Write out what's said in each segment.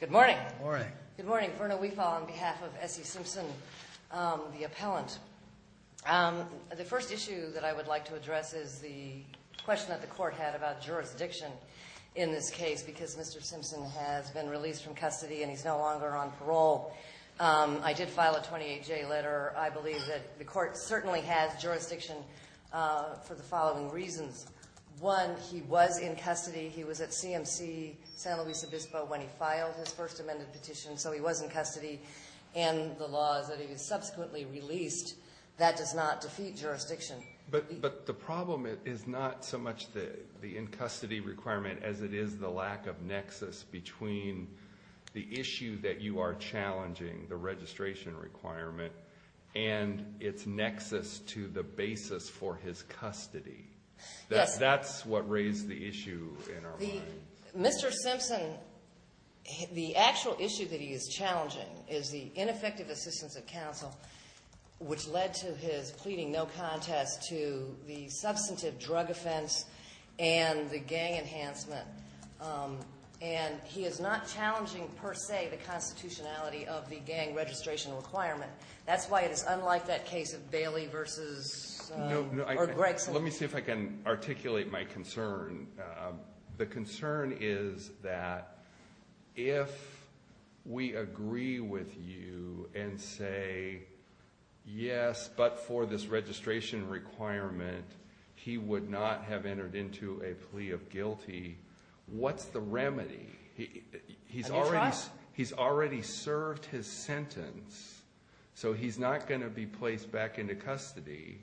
Good morning. Good morning. Good morning. Verna Weefal on behalf of S.E. Simpson, the appellant. The first issue that I would like to address is the question that the court had about jurisdiction in this case because Mr. Simpson has been released from custody and he's no longer on parole. I did file a 28-J letter. I believe that the court certainly has jurisdiction for the following reasons. One, he was in custody. He was at CMC San Luis Obispo when he filed his first amended petition, so he was in custody. And the law is that he was subsequently released. That does not defeat jurisdiction. But the problem is not so much the in-custody requirement as it is the lack of nexus between the issue that you are challenging, the registration requirement, and its nexus to the basis for his custody. That's what raised the issue in our mind. Mr. Simpson, the actual issue that he is challenging is the ineffective assistance of counsel, which led to his pleading no contest to the substantive drug offense and the gang enhancement. And he is not challenging per se the constitutionality of the gang registration requirement. That's why it is unlike that case of Bailey v. Gregson. Let me see if I can articulate my concern. The concern is that if we agree with you and say, yes, but for this registration requirement, he would not have entered into a plea of guilty, what's the remedy? He's already served his sentence, so he's not going to be placed back into custody.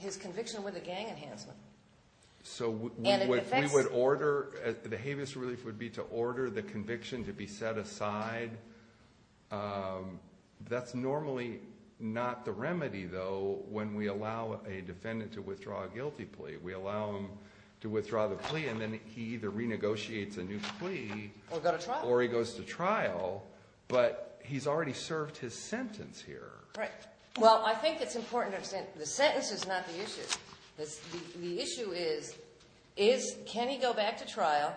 His conviction with the gang enhancement. So we would order, the habeas relief would be to order the conviction to be set aside. That's normally not the remedy, though, when we allow a defendant to withdraw a guilty plea. We allow him to withdraw the plea, and then he either renegotiates a new plea or he goes to trial, but he's already served his sentence here. Right. Well, I think it's important to understand the sentence is not the issue. The issue is, can he go back to trial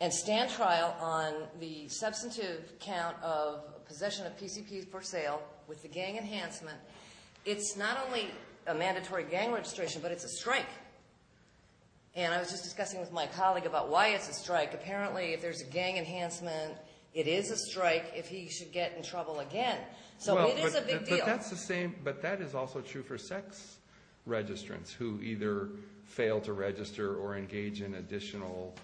and stand trial on the substantive count of possession of PCPs for sale with the gang enhancement? It's not only a mandatory gang registration, but it's a strike. And I was just discussing with my colleague about why it's a strike. Apparently, if there's a gang enhancement, it is a strike if he should get in trouble again. So it is a big deal. But that is also true for sex registrants who either fail to register or engage in additional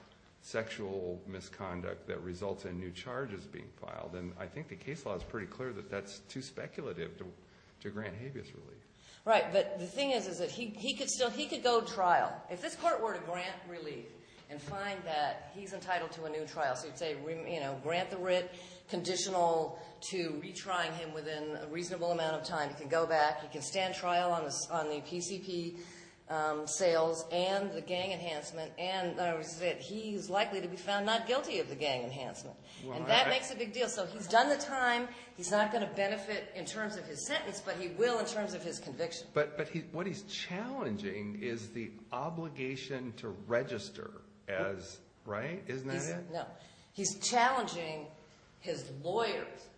sexual misconduct that results in new charges being filed. And I think the case law is pretty clear that that's too speculative to grant habeas relief. Right, but the thing is that he could go to trial. If this court were to grant relief and find that he's entitled to a new trial, so you'd say, you know, grant the writ conditional to retrying him within a reasonable amount of time. He can go back. He can stand trial on the PCP sales and the gang enhancement. And he's likely to be found not guilty of the gang enhancement. And that makes a big deal. So he's done the time. He's not going to benefit in terms of his sentence, but he will in terms of his conviction. But what he's challenging is the obligation to register, right? Isn't that it? No. He's challenging his lawyer's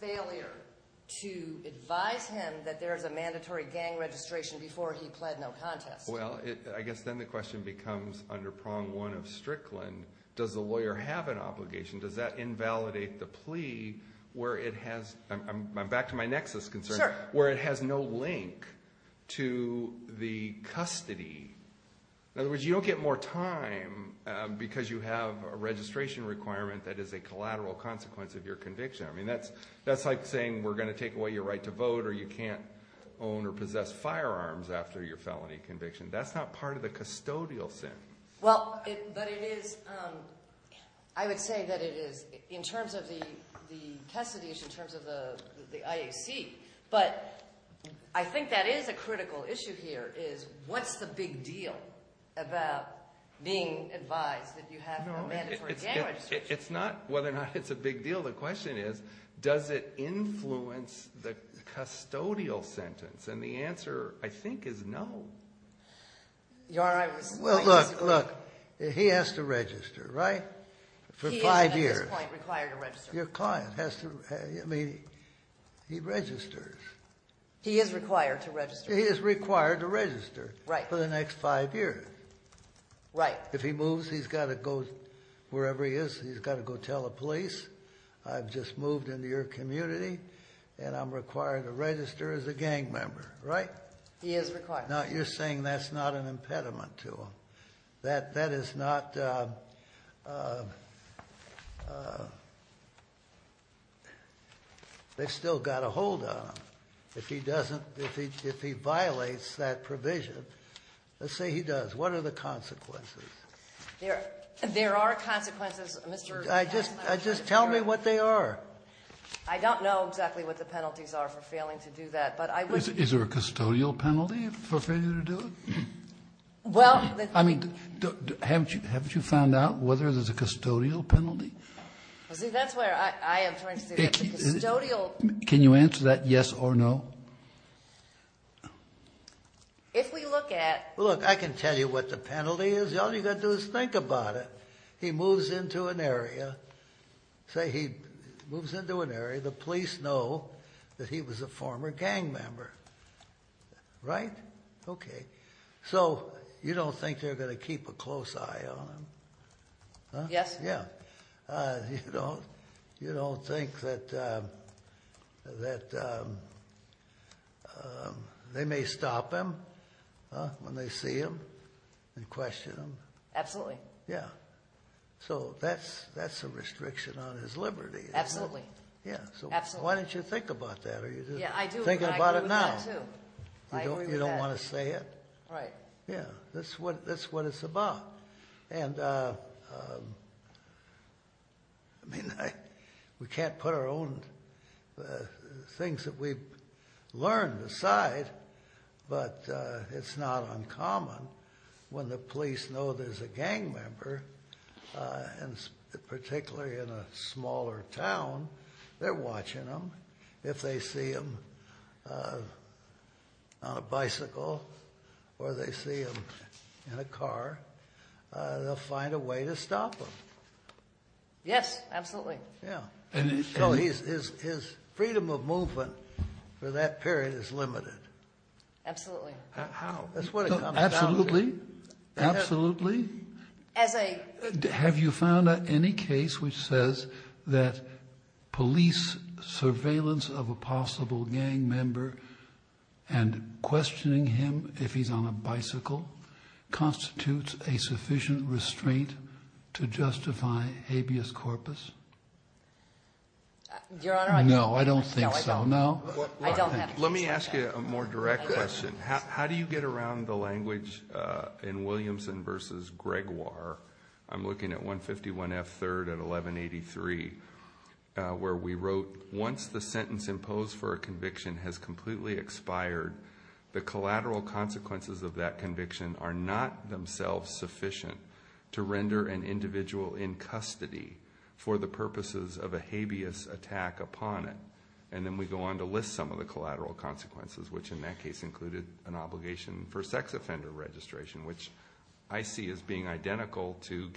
failure to advise him that there is a mandatory gang registration before he pled no contest. Well, I guess then the question becomes under prong one of Strickland, does the lawyer have an obligation? Does that invalidate the plea where it has – I'm back to my nexus concern – where it has no link to the custody? In other words, you don't get more time because you have a registration requirement that is a collateral consequence of your conviction. I mean, that's like saying we're going to take away your right to vote or you can't own or possess firearms after your felony conviction. That's not part of the custodial sin. Well, but it is – I would say that it is in terms of the custody issue, in terms of the IAC. But I think that is a critical issue here is what's the big deal about being advised that you have a mandatory gang registration? It's not whether or not it's a big deal. The question is does it influence the custodial sentence? And the answer, I think, is no. Your Honor, I was – Well, look, look, he has to register, right, for five years. He is at this point required to register. Your client has to – I mean, he registers. He is required to register. He is required to register for the next five years. Right. If he moves, he's got to go wherever he is. He's got to go tell the police, I've just moved into your community and I'm required to register as a gang member, right? He is required. Now, you're saying that's not an impediment to him, that that is not – they've still got a hold on him. If he doesn't – if he violates that provision, let's say he does, what are the consequences? There are consequences, Mr. — Just tell me what they are. I don't know exactly what the penalties are for failing to do that, but I would — Is there a custodial penalty for failing to do it? Well, the – I mean, haven't you found out whether there's a custodial penalty? See, that's where I am trying to see. It's a custodial – Can you answer that yes or no? If we look at – Look, I can tell you what the penalty is. All you've got to do is think about it. He moves into an area, say he moves into an area, the police know that he was a former gang member, right? Okay. So, you don't think they're going to keep a close eye on him? Yes. Yeah. You don't think that they may stop him when they see him and question him? Absolutely. Yeah. So, that's a restriction on his liberty. Absolutely. Yeah. Absolutely. So, why don't you think about that? Yeah, I do. Think about it now. I agree with that, too. You don't want to say it? Right. Yeah, that's what it's about. And, I mean, we can't put our own things that we've learned aside, but it's not uncommon when the police know there's a gang member, and particularly in a smaller town, they're watching him. If they see him on a bicycle or they see him in a car, they'll find a way to stop him. Yes, absolutely. Yeah. So, his freedom of movement for that period is limited. Absolutely. How? That's what it comes down to. Absolutely. Absolutely. Have you found any case which says that police surveillance of a possible gang member and questioning him if he's on a bicycle constitutes a sufficient restraint to justify habeas corpus? Your Honor, I don't think so. No, I don't think so. No? I don't have a case like that. Let me ask you a more direct question. How do you get around the language in Williamson v. Gregoire? I'm looking at 151 F. 3rd at 1183, where we wrote, Once the sentence imposed for a conviction has completely expired, the collateral consequences of that conviction are not themselves sufficient to render an individual in custody for the purposes of a habeas attack upon it. And then we go on to list some of the collateral consequences, which in that case included an obligation for sex offender registration, which I see as being identical to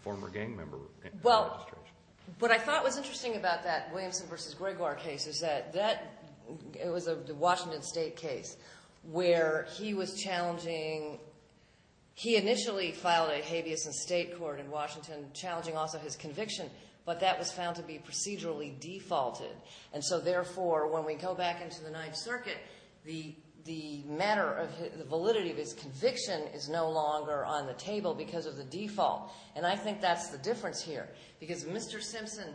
former gang member registration. Well, what I thought was interesting about that Williamson v. Gregoire case is that it was a Washington State case where he was challenging. He initially filed a habeas in state court in Washington challenging also his conviction, but that was found to be procedurally defaulted. And so, therefore, when we go back into the Ninth Circuit, the matter of the validity of his conviction is no longer on the table because of the default. And I think that's the difference here. Because Mr. Simpson,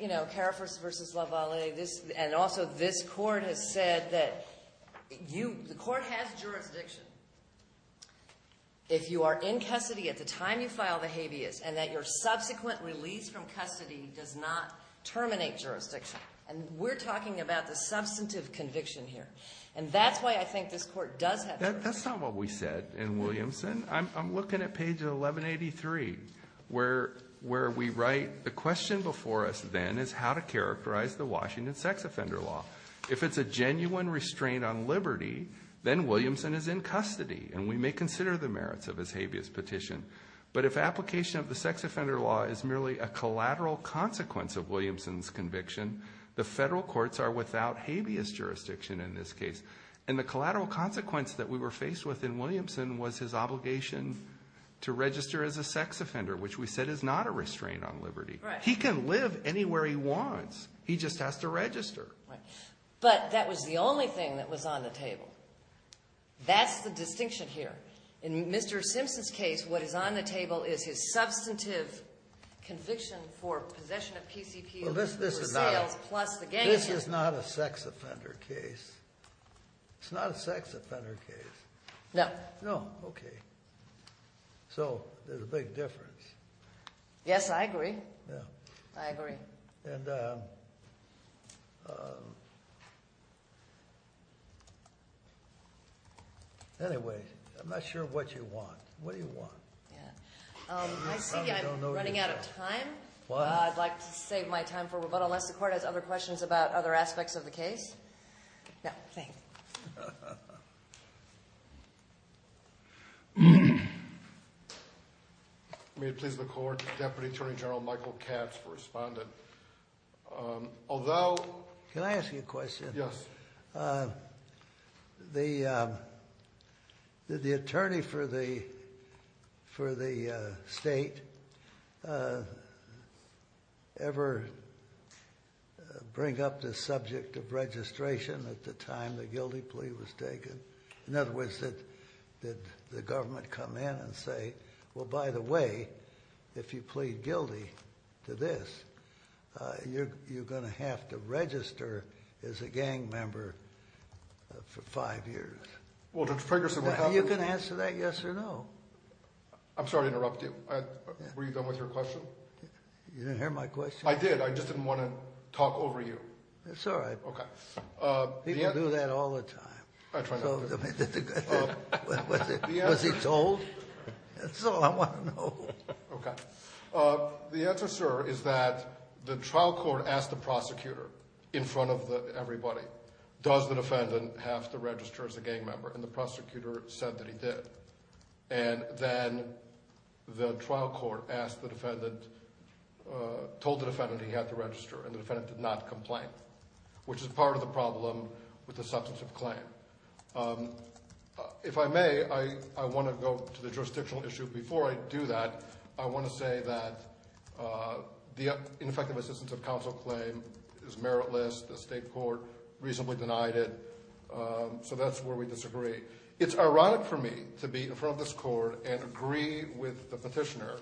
you know, Carafors v. Lavallee, and also this court has said that the court has jurisdiction. If you are in custody at the time you file the habeas, and that your subsequent release from custody does not terminate jurisdiction. And we're talking about the substantive conviction here. And that's why I think this court does have jurisdiction. That's not what we said in Williamson. I'm looking at page 1183 where we write, the question before us then is how to characterize the Washington sex offender law. If it's a genuine restraint on liberty, then Williamson is in custody. And we may consider the merits of his habeas petition. But if application of the sex offender law is merely a collateral consequence of Williamson's conviction, the federal courts are without habeas jurisdiction in this case. And the collateral consequence that we were faced with in Williamson was his obligation to register as a sex offender, which we said is not a restraint on liberty. He can live anywhere he wants. He just has to register. Right. But that was the only thing that was on the table. That's the distinction here. In Mr. Simpson's case, what is on the table is his substantive conviction for possession of PCP. This is not a sex offender case. It's not a sex offender case. No. No. Okay. So there's a big difference. Yes, I agree. Yeah. I agree. And anyway, I'm not sure what you want. What do you want? I see I'm running out of time. I'd like to save my time for rebuttal unless the court has other questions about other aspects of the case. No, thanks. May it please the court. Deputy Attorney General Michael Katz for respondent. Although. Can I ask you a question? Yes. Did the attorney for the state ever bring up the subject of registration at the time the guilty plea was taken? In other words, did the government come in and say, Well, by the way, if you plead guilty to this, you're going to have to register as a gang member for five years. Well, Judge Ferguson, what happened? You can answer that yes or no. I'm sorry to interrupt you. Were you done with your question? You didn't hear my question? I did. I just didn't want to talk over you. That's all right. Okay. People do that all the time. I try not to. Was he told? That's all I want to know. Okay. The answer, sir, is that the trial court asked the prosecutor in front of everybody, Does the defendant have to register as a gang member? And the prosecutor said that he did. And then the trial court asked the defendant, told the defendant he had to register. And the defendant did not complain, which is part of the problem with the substantive claim. If I may, I want to go to the jurisdictional issue. Before I do that, I want to say that the ineffective assistance of counsel claim is meritless. The state court reasonably denied it. So that's where we disagree. It's ironic for me to be in front of this court and agree with the petitioner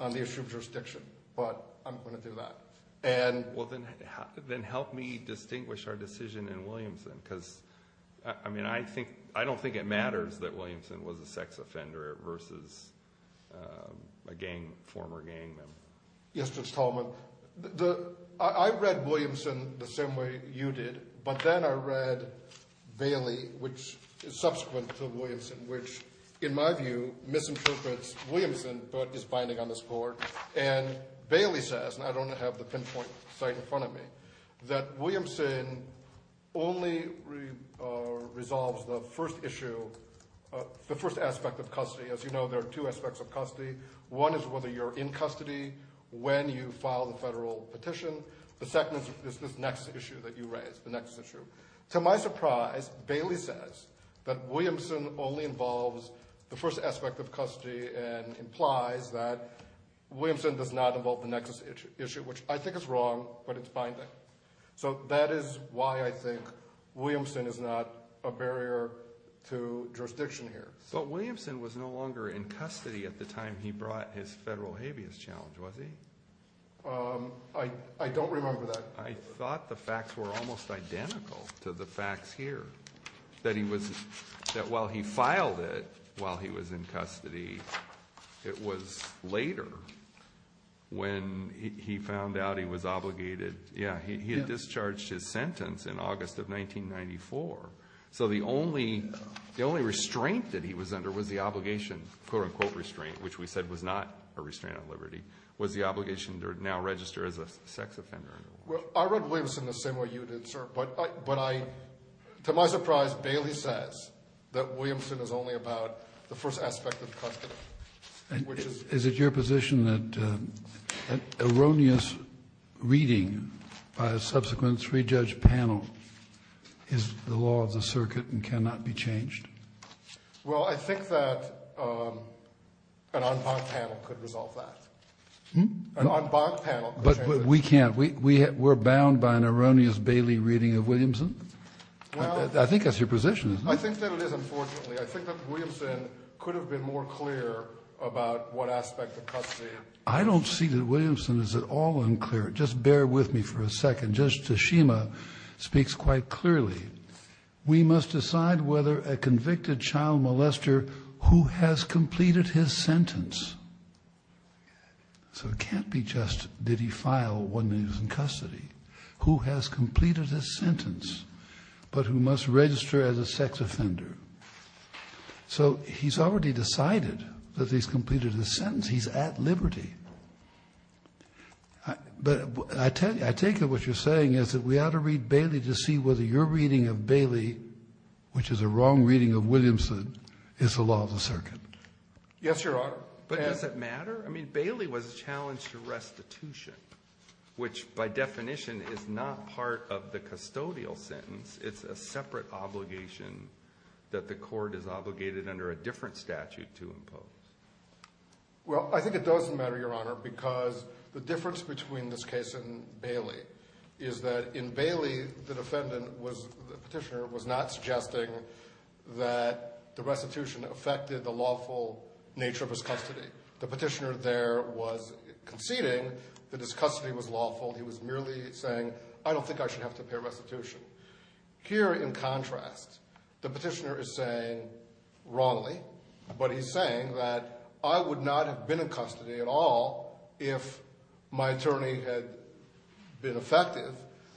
on the issue of jurisdiction. But I'm going to do that. Well, then help me distinguish our decision in Williamson. Because, I mean, I don't think it matters that Williamson was a sex offender versus a former gang member. Yes, Judge Tolman. I read Williamson the same way you did. But then I read Bailey, which is subsequent to Williamson, which, in my view, misinterprets Williamson but is binding on this court. And Bailey says, and I don't have the pinpoint sight in front of me, that Williamson only resolves the first issue, the first aspect of custody. As you know, there are two aspects of custody. One is whether you're in custody when you file the federal petition. The second is this next issue that you raise, the next issue. To my surprise, Bailey says that Williamson only involves the first aspect of custody and implies that Williamson does not involve the next issue, which I think is wrong, but it's binding. So that is why I think Williamson is not a barrier to jurisdiction here. But Williamson was no longer in custody at the time he brought his federal habeas challenge, was he? I don't remember that. But I thought the facts were almost identical to the facts here, that while he filed it while he was in custody, it was later when he found out he was obligated. Yeah, he had discharged his sentence in August of 1994. So the only restraint that he was under was the obligation, quote-unquote restraint, which we said was not a restraint on liberty, was the obligation to now register as a sex offender. I wrote Williamson the same way you did, sir. But to my surprise, Bailey says that Williamson is only about the first aspect of custody. Is it your position that erroneous reading by a subsequent three-judge panel is the law of the circuit and cannot be changed? Well, I think that an en banc panel could resolve that. An en banc panel could change it. But we can't. We're bound by an erroneous Bailey reading of Williamson? I think that's your position, isn't it? I think that it is, unfortunately. I think that Williamson could have been more clear about what aspect of custody it was. I don't see that Williamson is at all unclear. Just bear with me for a second. Judge Tashima speaks quite clearly. We must decide whether a convicted child molester who has completed his sentence. So it can't be just did he file when he was in custody. Who has completed his sentence, but who must register as a sex offender. So he's already decided that he's completed his sentence. He's at liberty. But I take it what you're saying is that we ought to read Bailey to see whether your reading of Bailey, which is a wrong reading of Williamson, is the law of the circuit. Yes, Your Honor. But does it matter? I mean, Bailey was challenged to restitution, which by definition is not part of the custodial sentence. It's a separate obligation that the court is obligated under a different statute to impose. Well, I think it doesn't matter, Your Honor, because the difference between this case and Bailey is that in Bailey, the defendant was the petitioner was not suggesting that the restitution affected the lawful nature of his custody. The petitioner there was conceding that his custody was lawful. He was merely saying, I don't think I should have to pay restitution here. In contrast, the petitioner is saying wrongly. But he's saying that I would not have been in custody at all if my attorney had been effective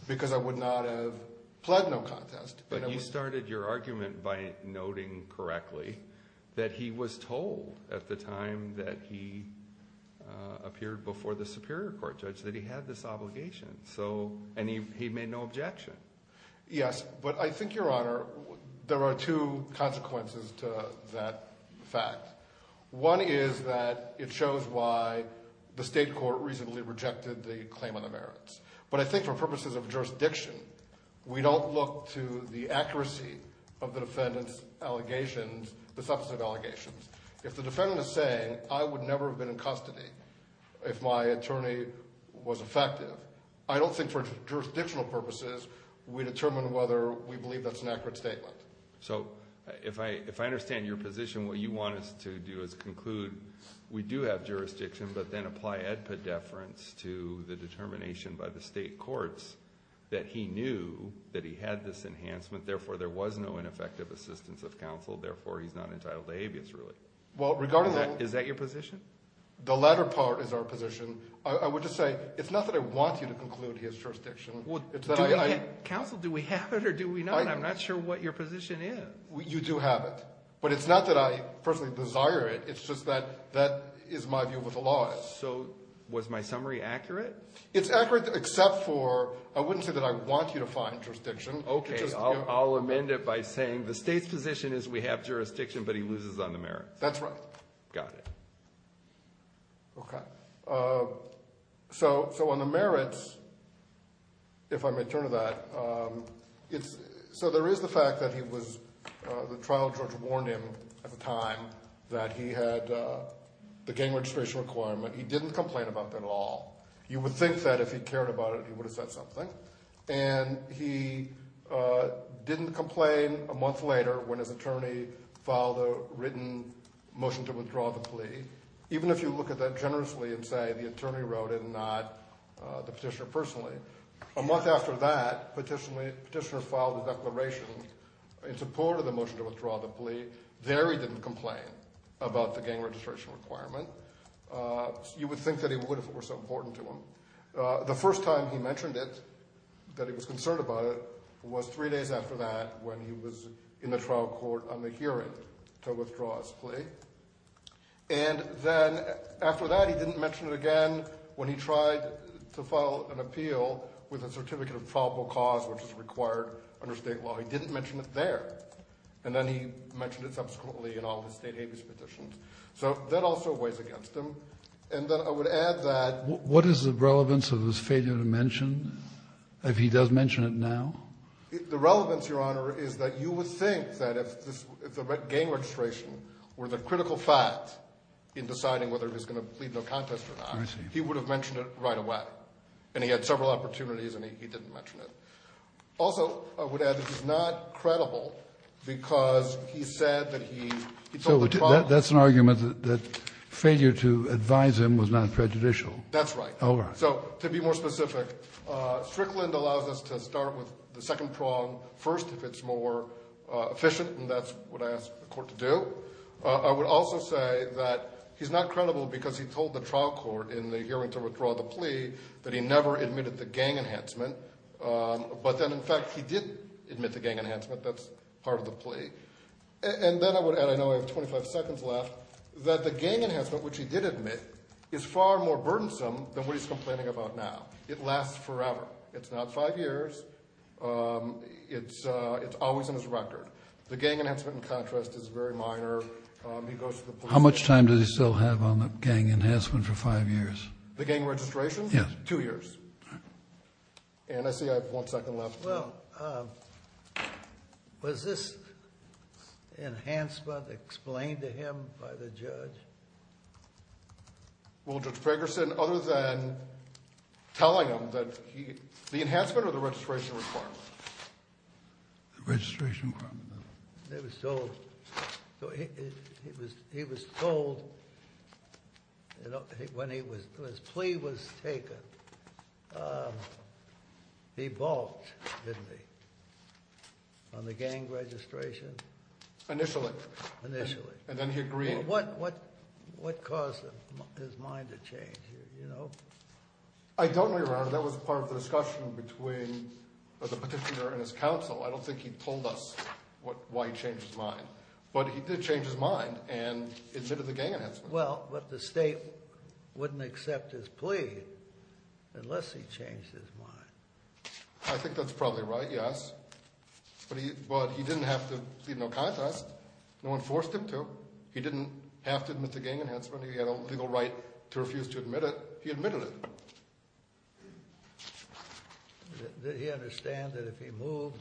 because I would not have pled no contest. But you started your argument by noting correctly that he was told at the time that he appeared before the Superior Court judge that he had this obligation. And he made no objection. Yes. But I think, Your Honor, there are two consequences to that fact. One is that it shows why the state court reasonably rejected the claim on the merits. But I think for purposes of jurisdiction, we don't look to the accuracy of the defendant's allegations, the substantive allegations. If the defendant is saying, I would never have been in custody if my attorney was effective, I don't think for jurisdictional purposes we determine whether we believe that's an accurate statement. So if I understand your position, what you want us to do is conclude we do have jurisdiction, but then apply AEDPA deference to the determination by the state courts that he knew that he had this enhancement, therefore there was no ineffective assistance of counsel, therefore he's not entitled to habeas ruling. Is that your position? The latter part is our position. I would just say it's not that I want you to conclude he has jurisdiction. Counsel, do we have it or do we not? I'm not sure what your position is. You do have it. But it's not that I personally desire it. It's just that that is my view of what the law is. So was my summary accurate? It's accurate except for I wouldn't say that I want you to find jurisdiction. Okay. I'll amend it by saying the state's position is we have jurisdiction, but he loses on the merits. That's right. Got it. Okay. So on the merits, if I may turn to that, so there is the fact that he was the trial judge warned him at the time that he had the gang registration requirement. He didn't complain about that at all. You would think that if he cared about it, he would have said something. And he didn't complain a month later when his attorney filed a written motion to withdraw the plea. Even if you look at that generously and say the attorney wrote it and not the petitioner personally, a month after that, the petitioner filed a declaration in support of the motion to withdraw the plea. There he didn't complain about the gang registration requirement. You would think that he would if it were so important to him. The first time he mentioned it, that he was concerned about it, was three days after that when he was in the trial court on the hearing to withdraw his plea. And then after that, he didn't mention it again when he tried to file an appeal with a certificate of probable cause, which is required under State law. He didn't mention it there. And then he mentioned it subsequently in all of his State habeas petitions. So that also weighs against him. And then I would add that ---- What is the relevance of his failure to mention, if he does mention it now? The relevance, Your Honor, is that you would think that if the gang registration were the critical fact in deciding whether he was going to plead no contest or not, he would have mentioned it right away. And he had several opportunities and he didn't mention it. Also, I would add that he's not credible because he said that he ---- So that's an argument that failure to advise him was not prejudicial. That's right. All right. So to be more specific, Strickland allows us to start with the second prong first if it's more efficient, and that's what I ask the court to do. I would also say that he's not credible because he told the trial court in the hearing to withdraw the plea that he never admitted the gang enhancement. But then, in fact, he did admit the gang enhancement. That's part of the plea. And then I would add, I know I have 25 seconds left, that the gang enhancement, which he did admit, is far more burdensome than what he's complaining about now. It lasts forever. It's not five years. It's always in his record. The gang enhancement, in contrast, is very minor. He goes to the police. How much time does he still have on the gang enhancement for five years? The gang registration? Yes. Two years. All right. And I see I have one second left. Well, was this enhancement explained to him by the judge? Well, Judge Ferguson, other than telling him that the enhancement or the registration requirement? The registration requirement. He was told when his plea was taken, he balked, didn't he, on the gang registration? Initially. Initially. And then he agreed. What caused his mind to change? I don't know, Your Honor. That was part of the discussion between the petitioner and his counsel. I don't think he told us why he changed his mind. But he did change his mind and admitted the gang enhancement. Well, but the state wouldn't accept his plea unless he changed his mind. I think that's probably right, yes. But he didn't have to plead no contest. No one forced him to. He didn't have to admit the gang enhancement. He had a legal right to refuse to admit it. He admitted it. Did he understand that if he moved,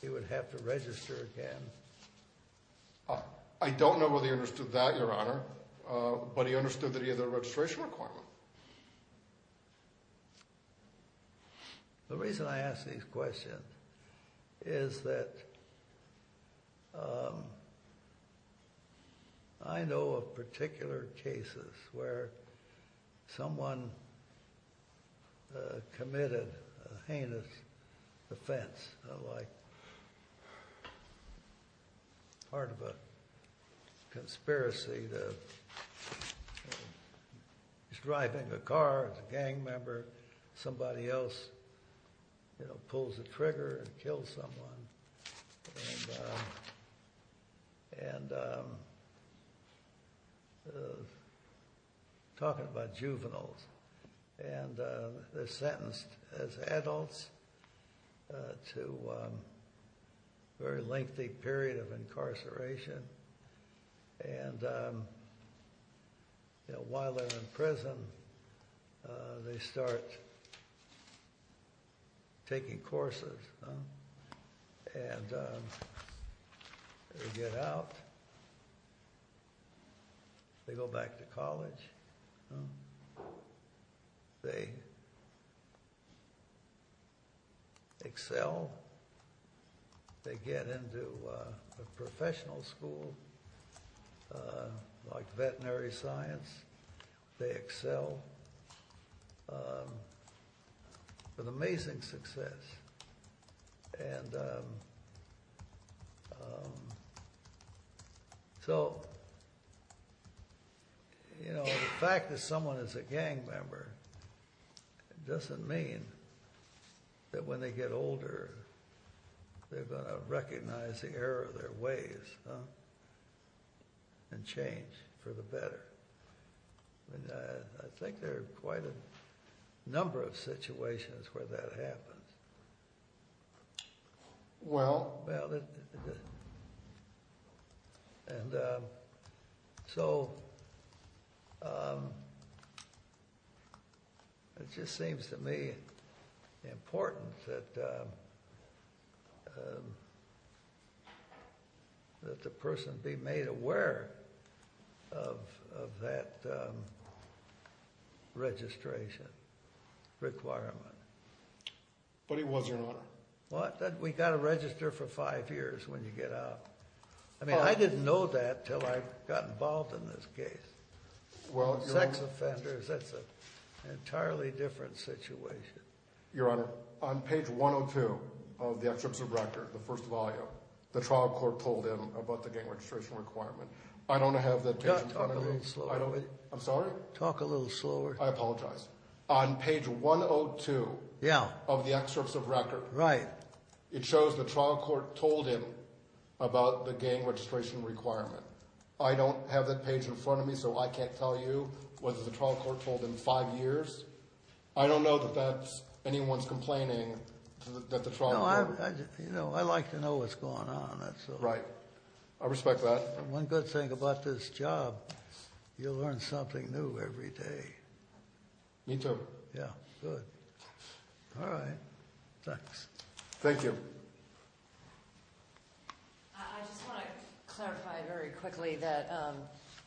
he would have to register again? I don't know whether he understood that, Your Honor. But he understood that he had a registration requirement. The reason I ask these questions is that I know of particular cases where someone committed a heinous offense, like part of a conspiracy. He's driving a car. It's a gang member. Somebody else, you know, pulls the trigger and kills someone. And talking about juveniles. And they're sentenced as adults to a very lengthy period of incarceration. And, you know, while they're in prison, they start taking courses. And they get out. They go back. They go back to college. They excel. They get into a professional school like veterinary science. They excel with amazing success. And so, you know, the fact that someone is a gang member doesn't mean that when they get older, they're going to recognize the error of their ways and change for the better. I think there are quite a number of situations where that happens. Well. And so it just seems to me important that the person be made aware of that registration requirement. But he wasn't, Your Honor. What? We've got to register for five years when you get out. I mean, I didn't know that until I got involved in this case. Well, Your Honor. Sex offenders, that's an entirely different situation. Your Honor, on page 102 of the excerpt of the record, the first volume, the trial court told him about the gang registration requirement. I don't have that page in front of me. Talk a little slower. I'm sorry? Talk a little slower. I apologize. On page 102 of the excerpt of the record. Right. It shows the trial court told him about the gang registration requirement. I don't have that page in front of me, so I can't tell you whether the trial court told him five years. I don't know that that's anyone's complaining that the trial court. You know, I like to know what's going on. Right. I respect that. One good thing about this job, you learn something new every day. Me too. Yeah. Good. All right. Thanks. Thank you. I just want to clarify very quickly that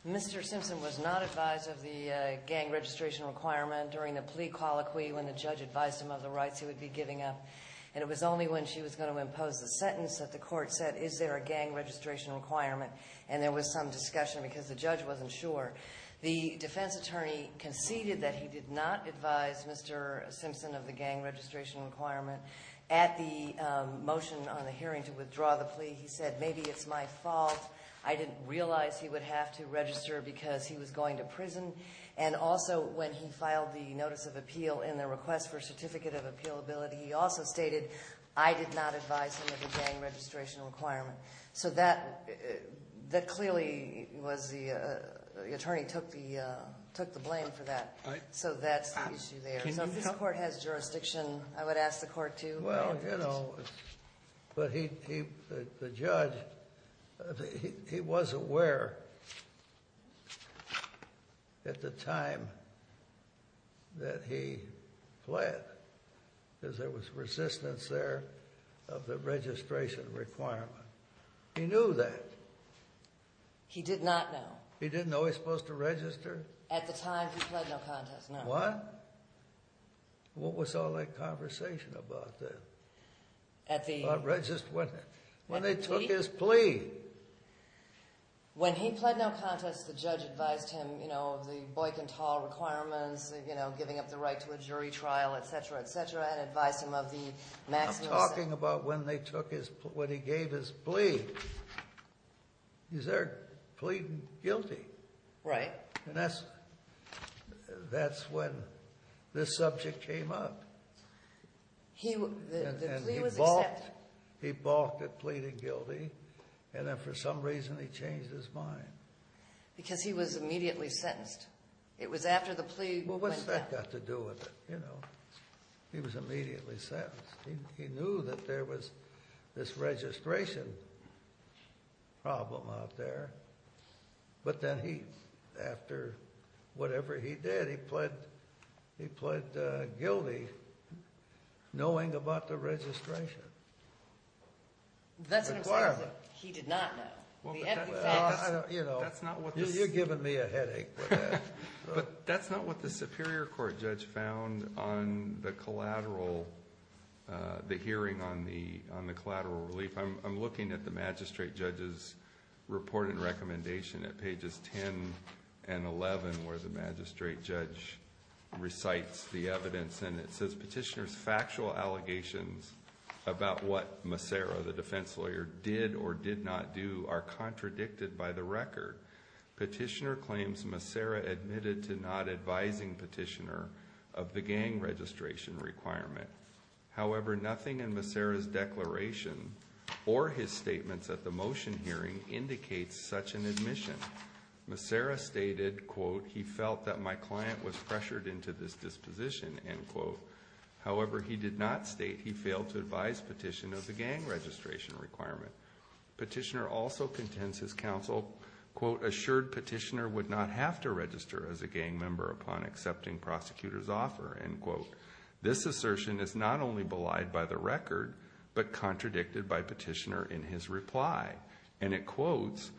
Mr. Simpson was not advised of the gang registration requirement during the plea colloquy when the judge advised him of the rights he would be giving up, and it was only when she was going to impose the sentence that the court said, is there a gang registration requirement? And there was some discussion because the judge wasn't sure. The defense attorney conceded that he did not advise Mr. Simpson of the gang registration requirement. At the motion on the hearing to withdraw the plea, he said, maybe it's my fault. I didn't realize he would have to register because he was going to prison. And also when he filed the notice of appeal in the request for certificate of appealability, he also stated, I did not advise him of the gang registration requirement. So that clearly was the attorney took the blame for that. So that's the issue there. So if this court has jurisdiction, I would ask the court to. Well, you know, but the judge, he was aware at the time that he pled, because there was resistance there of the registration requirement. He knew that. He did not know. He didn't know he was supposed to register? At the time he pled no contest, no. What? What was all that conversation about then? At the? When they took his plea. When he pled no contest, the judge advised him, you know, of the Boyk and Tall requirements, you know, giving up the right to a jury trial, et cetera, et cetera, and advised him of the maximum. I'm talking about when they took his, when he gave his plea. He's there pleading guilty. Right. And that's when this subject came up. The plea was accepted. He balked at pleading guilty, and then for some reason he changed his mind. Because he was immediately sentenced. It was after the plea went down. Well, what's that got to do with it, you know? He was immediately sentenced. He knew that there was this registration problem out there, but then he, after whatever he did, he pled guilty knowing about the registration requirement. That's what I'm saying is that he did not know. You know, you're giving me a headache with that. But that's not what the Superior Court judge found on the collateral, the hearing on the collateral relief. I'm looking at the magistrate judge's report and recommendation at pages 10 and 11 where the magistrate judge recites the evidence, and it says, Petitioner's factual allegations about what Massera, the defense lawyer, did or did not do are contradicted by the record. Petitioner claims Massera admitted to not advising Petitioner of the gang registration requirement. However, nothing in Massera's declaration or his statements at the motion hearing indicates such an admission. Massera stated, quote, he felt that my client was pressured into this disposition, end quote. However, he did not state he failed to advise Petitioner of the gang registration requirement. Petitioner also contends his counsel, quote, assured Petitioner would not have to register as a gang member upon accepting prosecutor's offer, end quote. This assertion is not only belied by the record, but contradicted by Petitioner in his reply. And it quotes,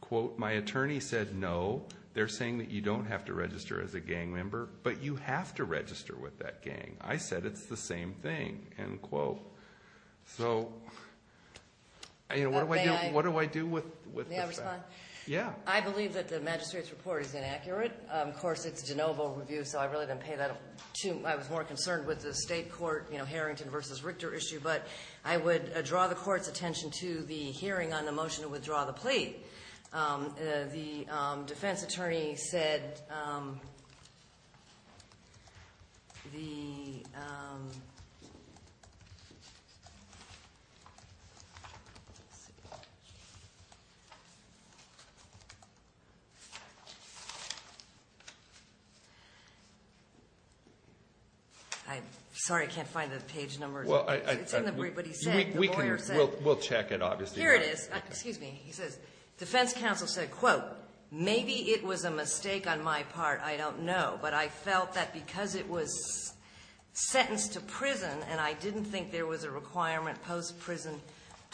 quote, my attorney said no, they're saying that you don't have to register as a gang member, but you have to register with that gang. I said it's the same thing, end quote. So, you know, what do I do with this? May I respond? Yeah. I believe that the magistrate's report is inaccurate. Of course, it's a de novo review, so I really didn't pay that much attention. I was more concerned with the state court, you know, Harrington versus Richter issue. But I would draw the court's attention to the hearing on the motion to withdraw the plea. The defense attorney said the Sorry, I can't find the page number. It's in the brief, but he said, the lawyer said. We'll check it, obviously. Here it is. Excuse me. He says defense counsel said, quote, Maybe it was a mistake on my part. I don't know. But I felt that because it was sentenced to prison and I didn't think there was a requirement post-prison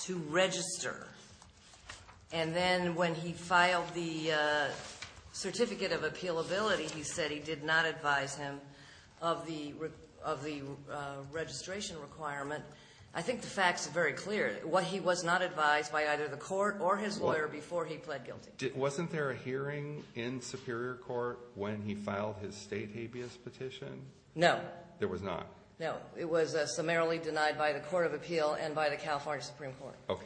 to register. And then when he filed the certificate of appealability, he said he did not advise him of the registration requirement. I think the fact's very clear. He was not advised by either the court or his lawyer before he pled guilty. Wasn't there a hearing in Superior Court when he filed his state habeas petition? No. There was not? No. It was summarily denied by the Court of Appeal and by the California Supreme Court. Okay.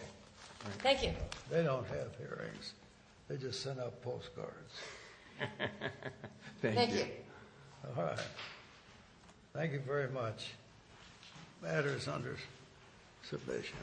Thank you. They don't have hearings. They just send out postcards. Thank you. All right. Thank you very much. The matter is under submission.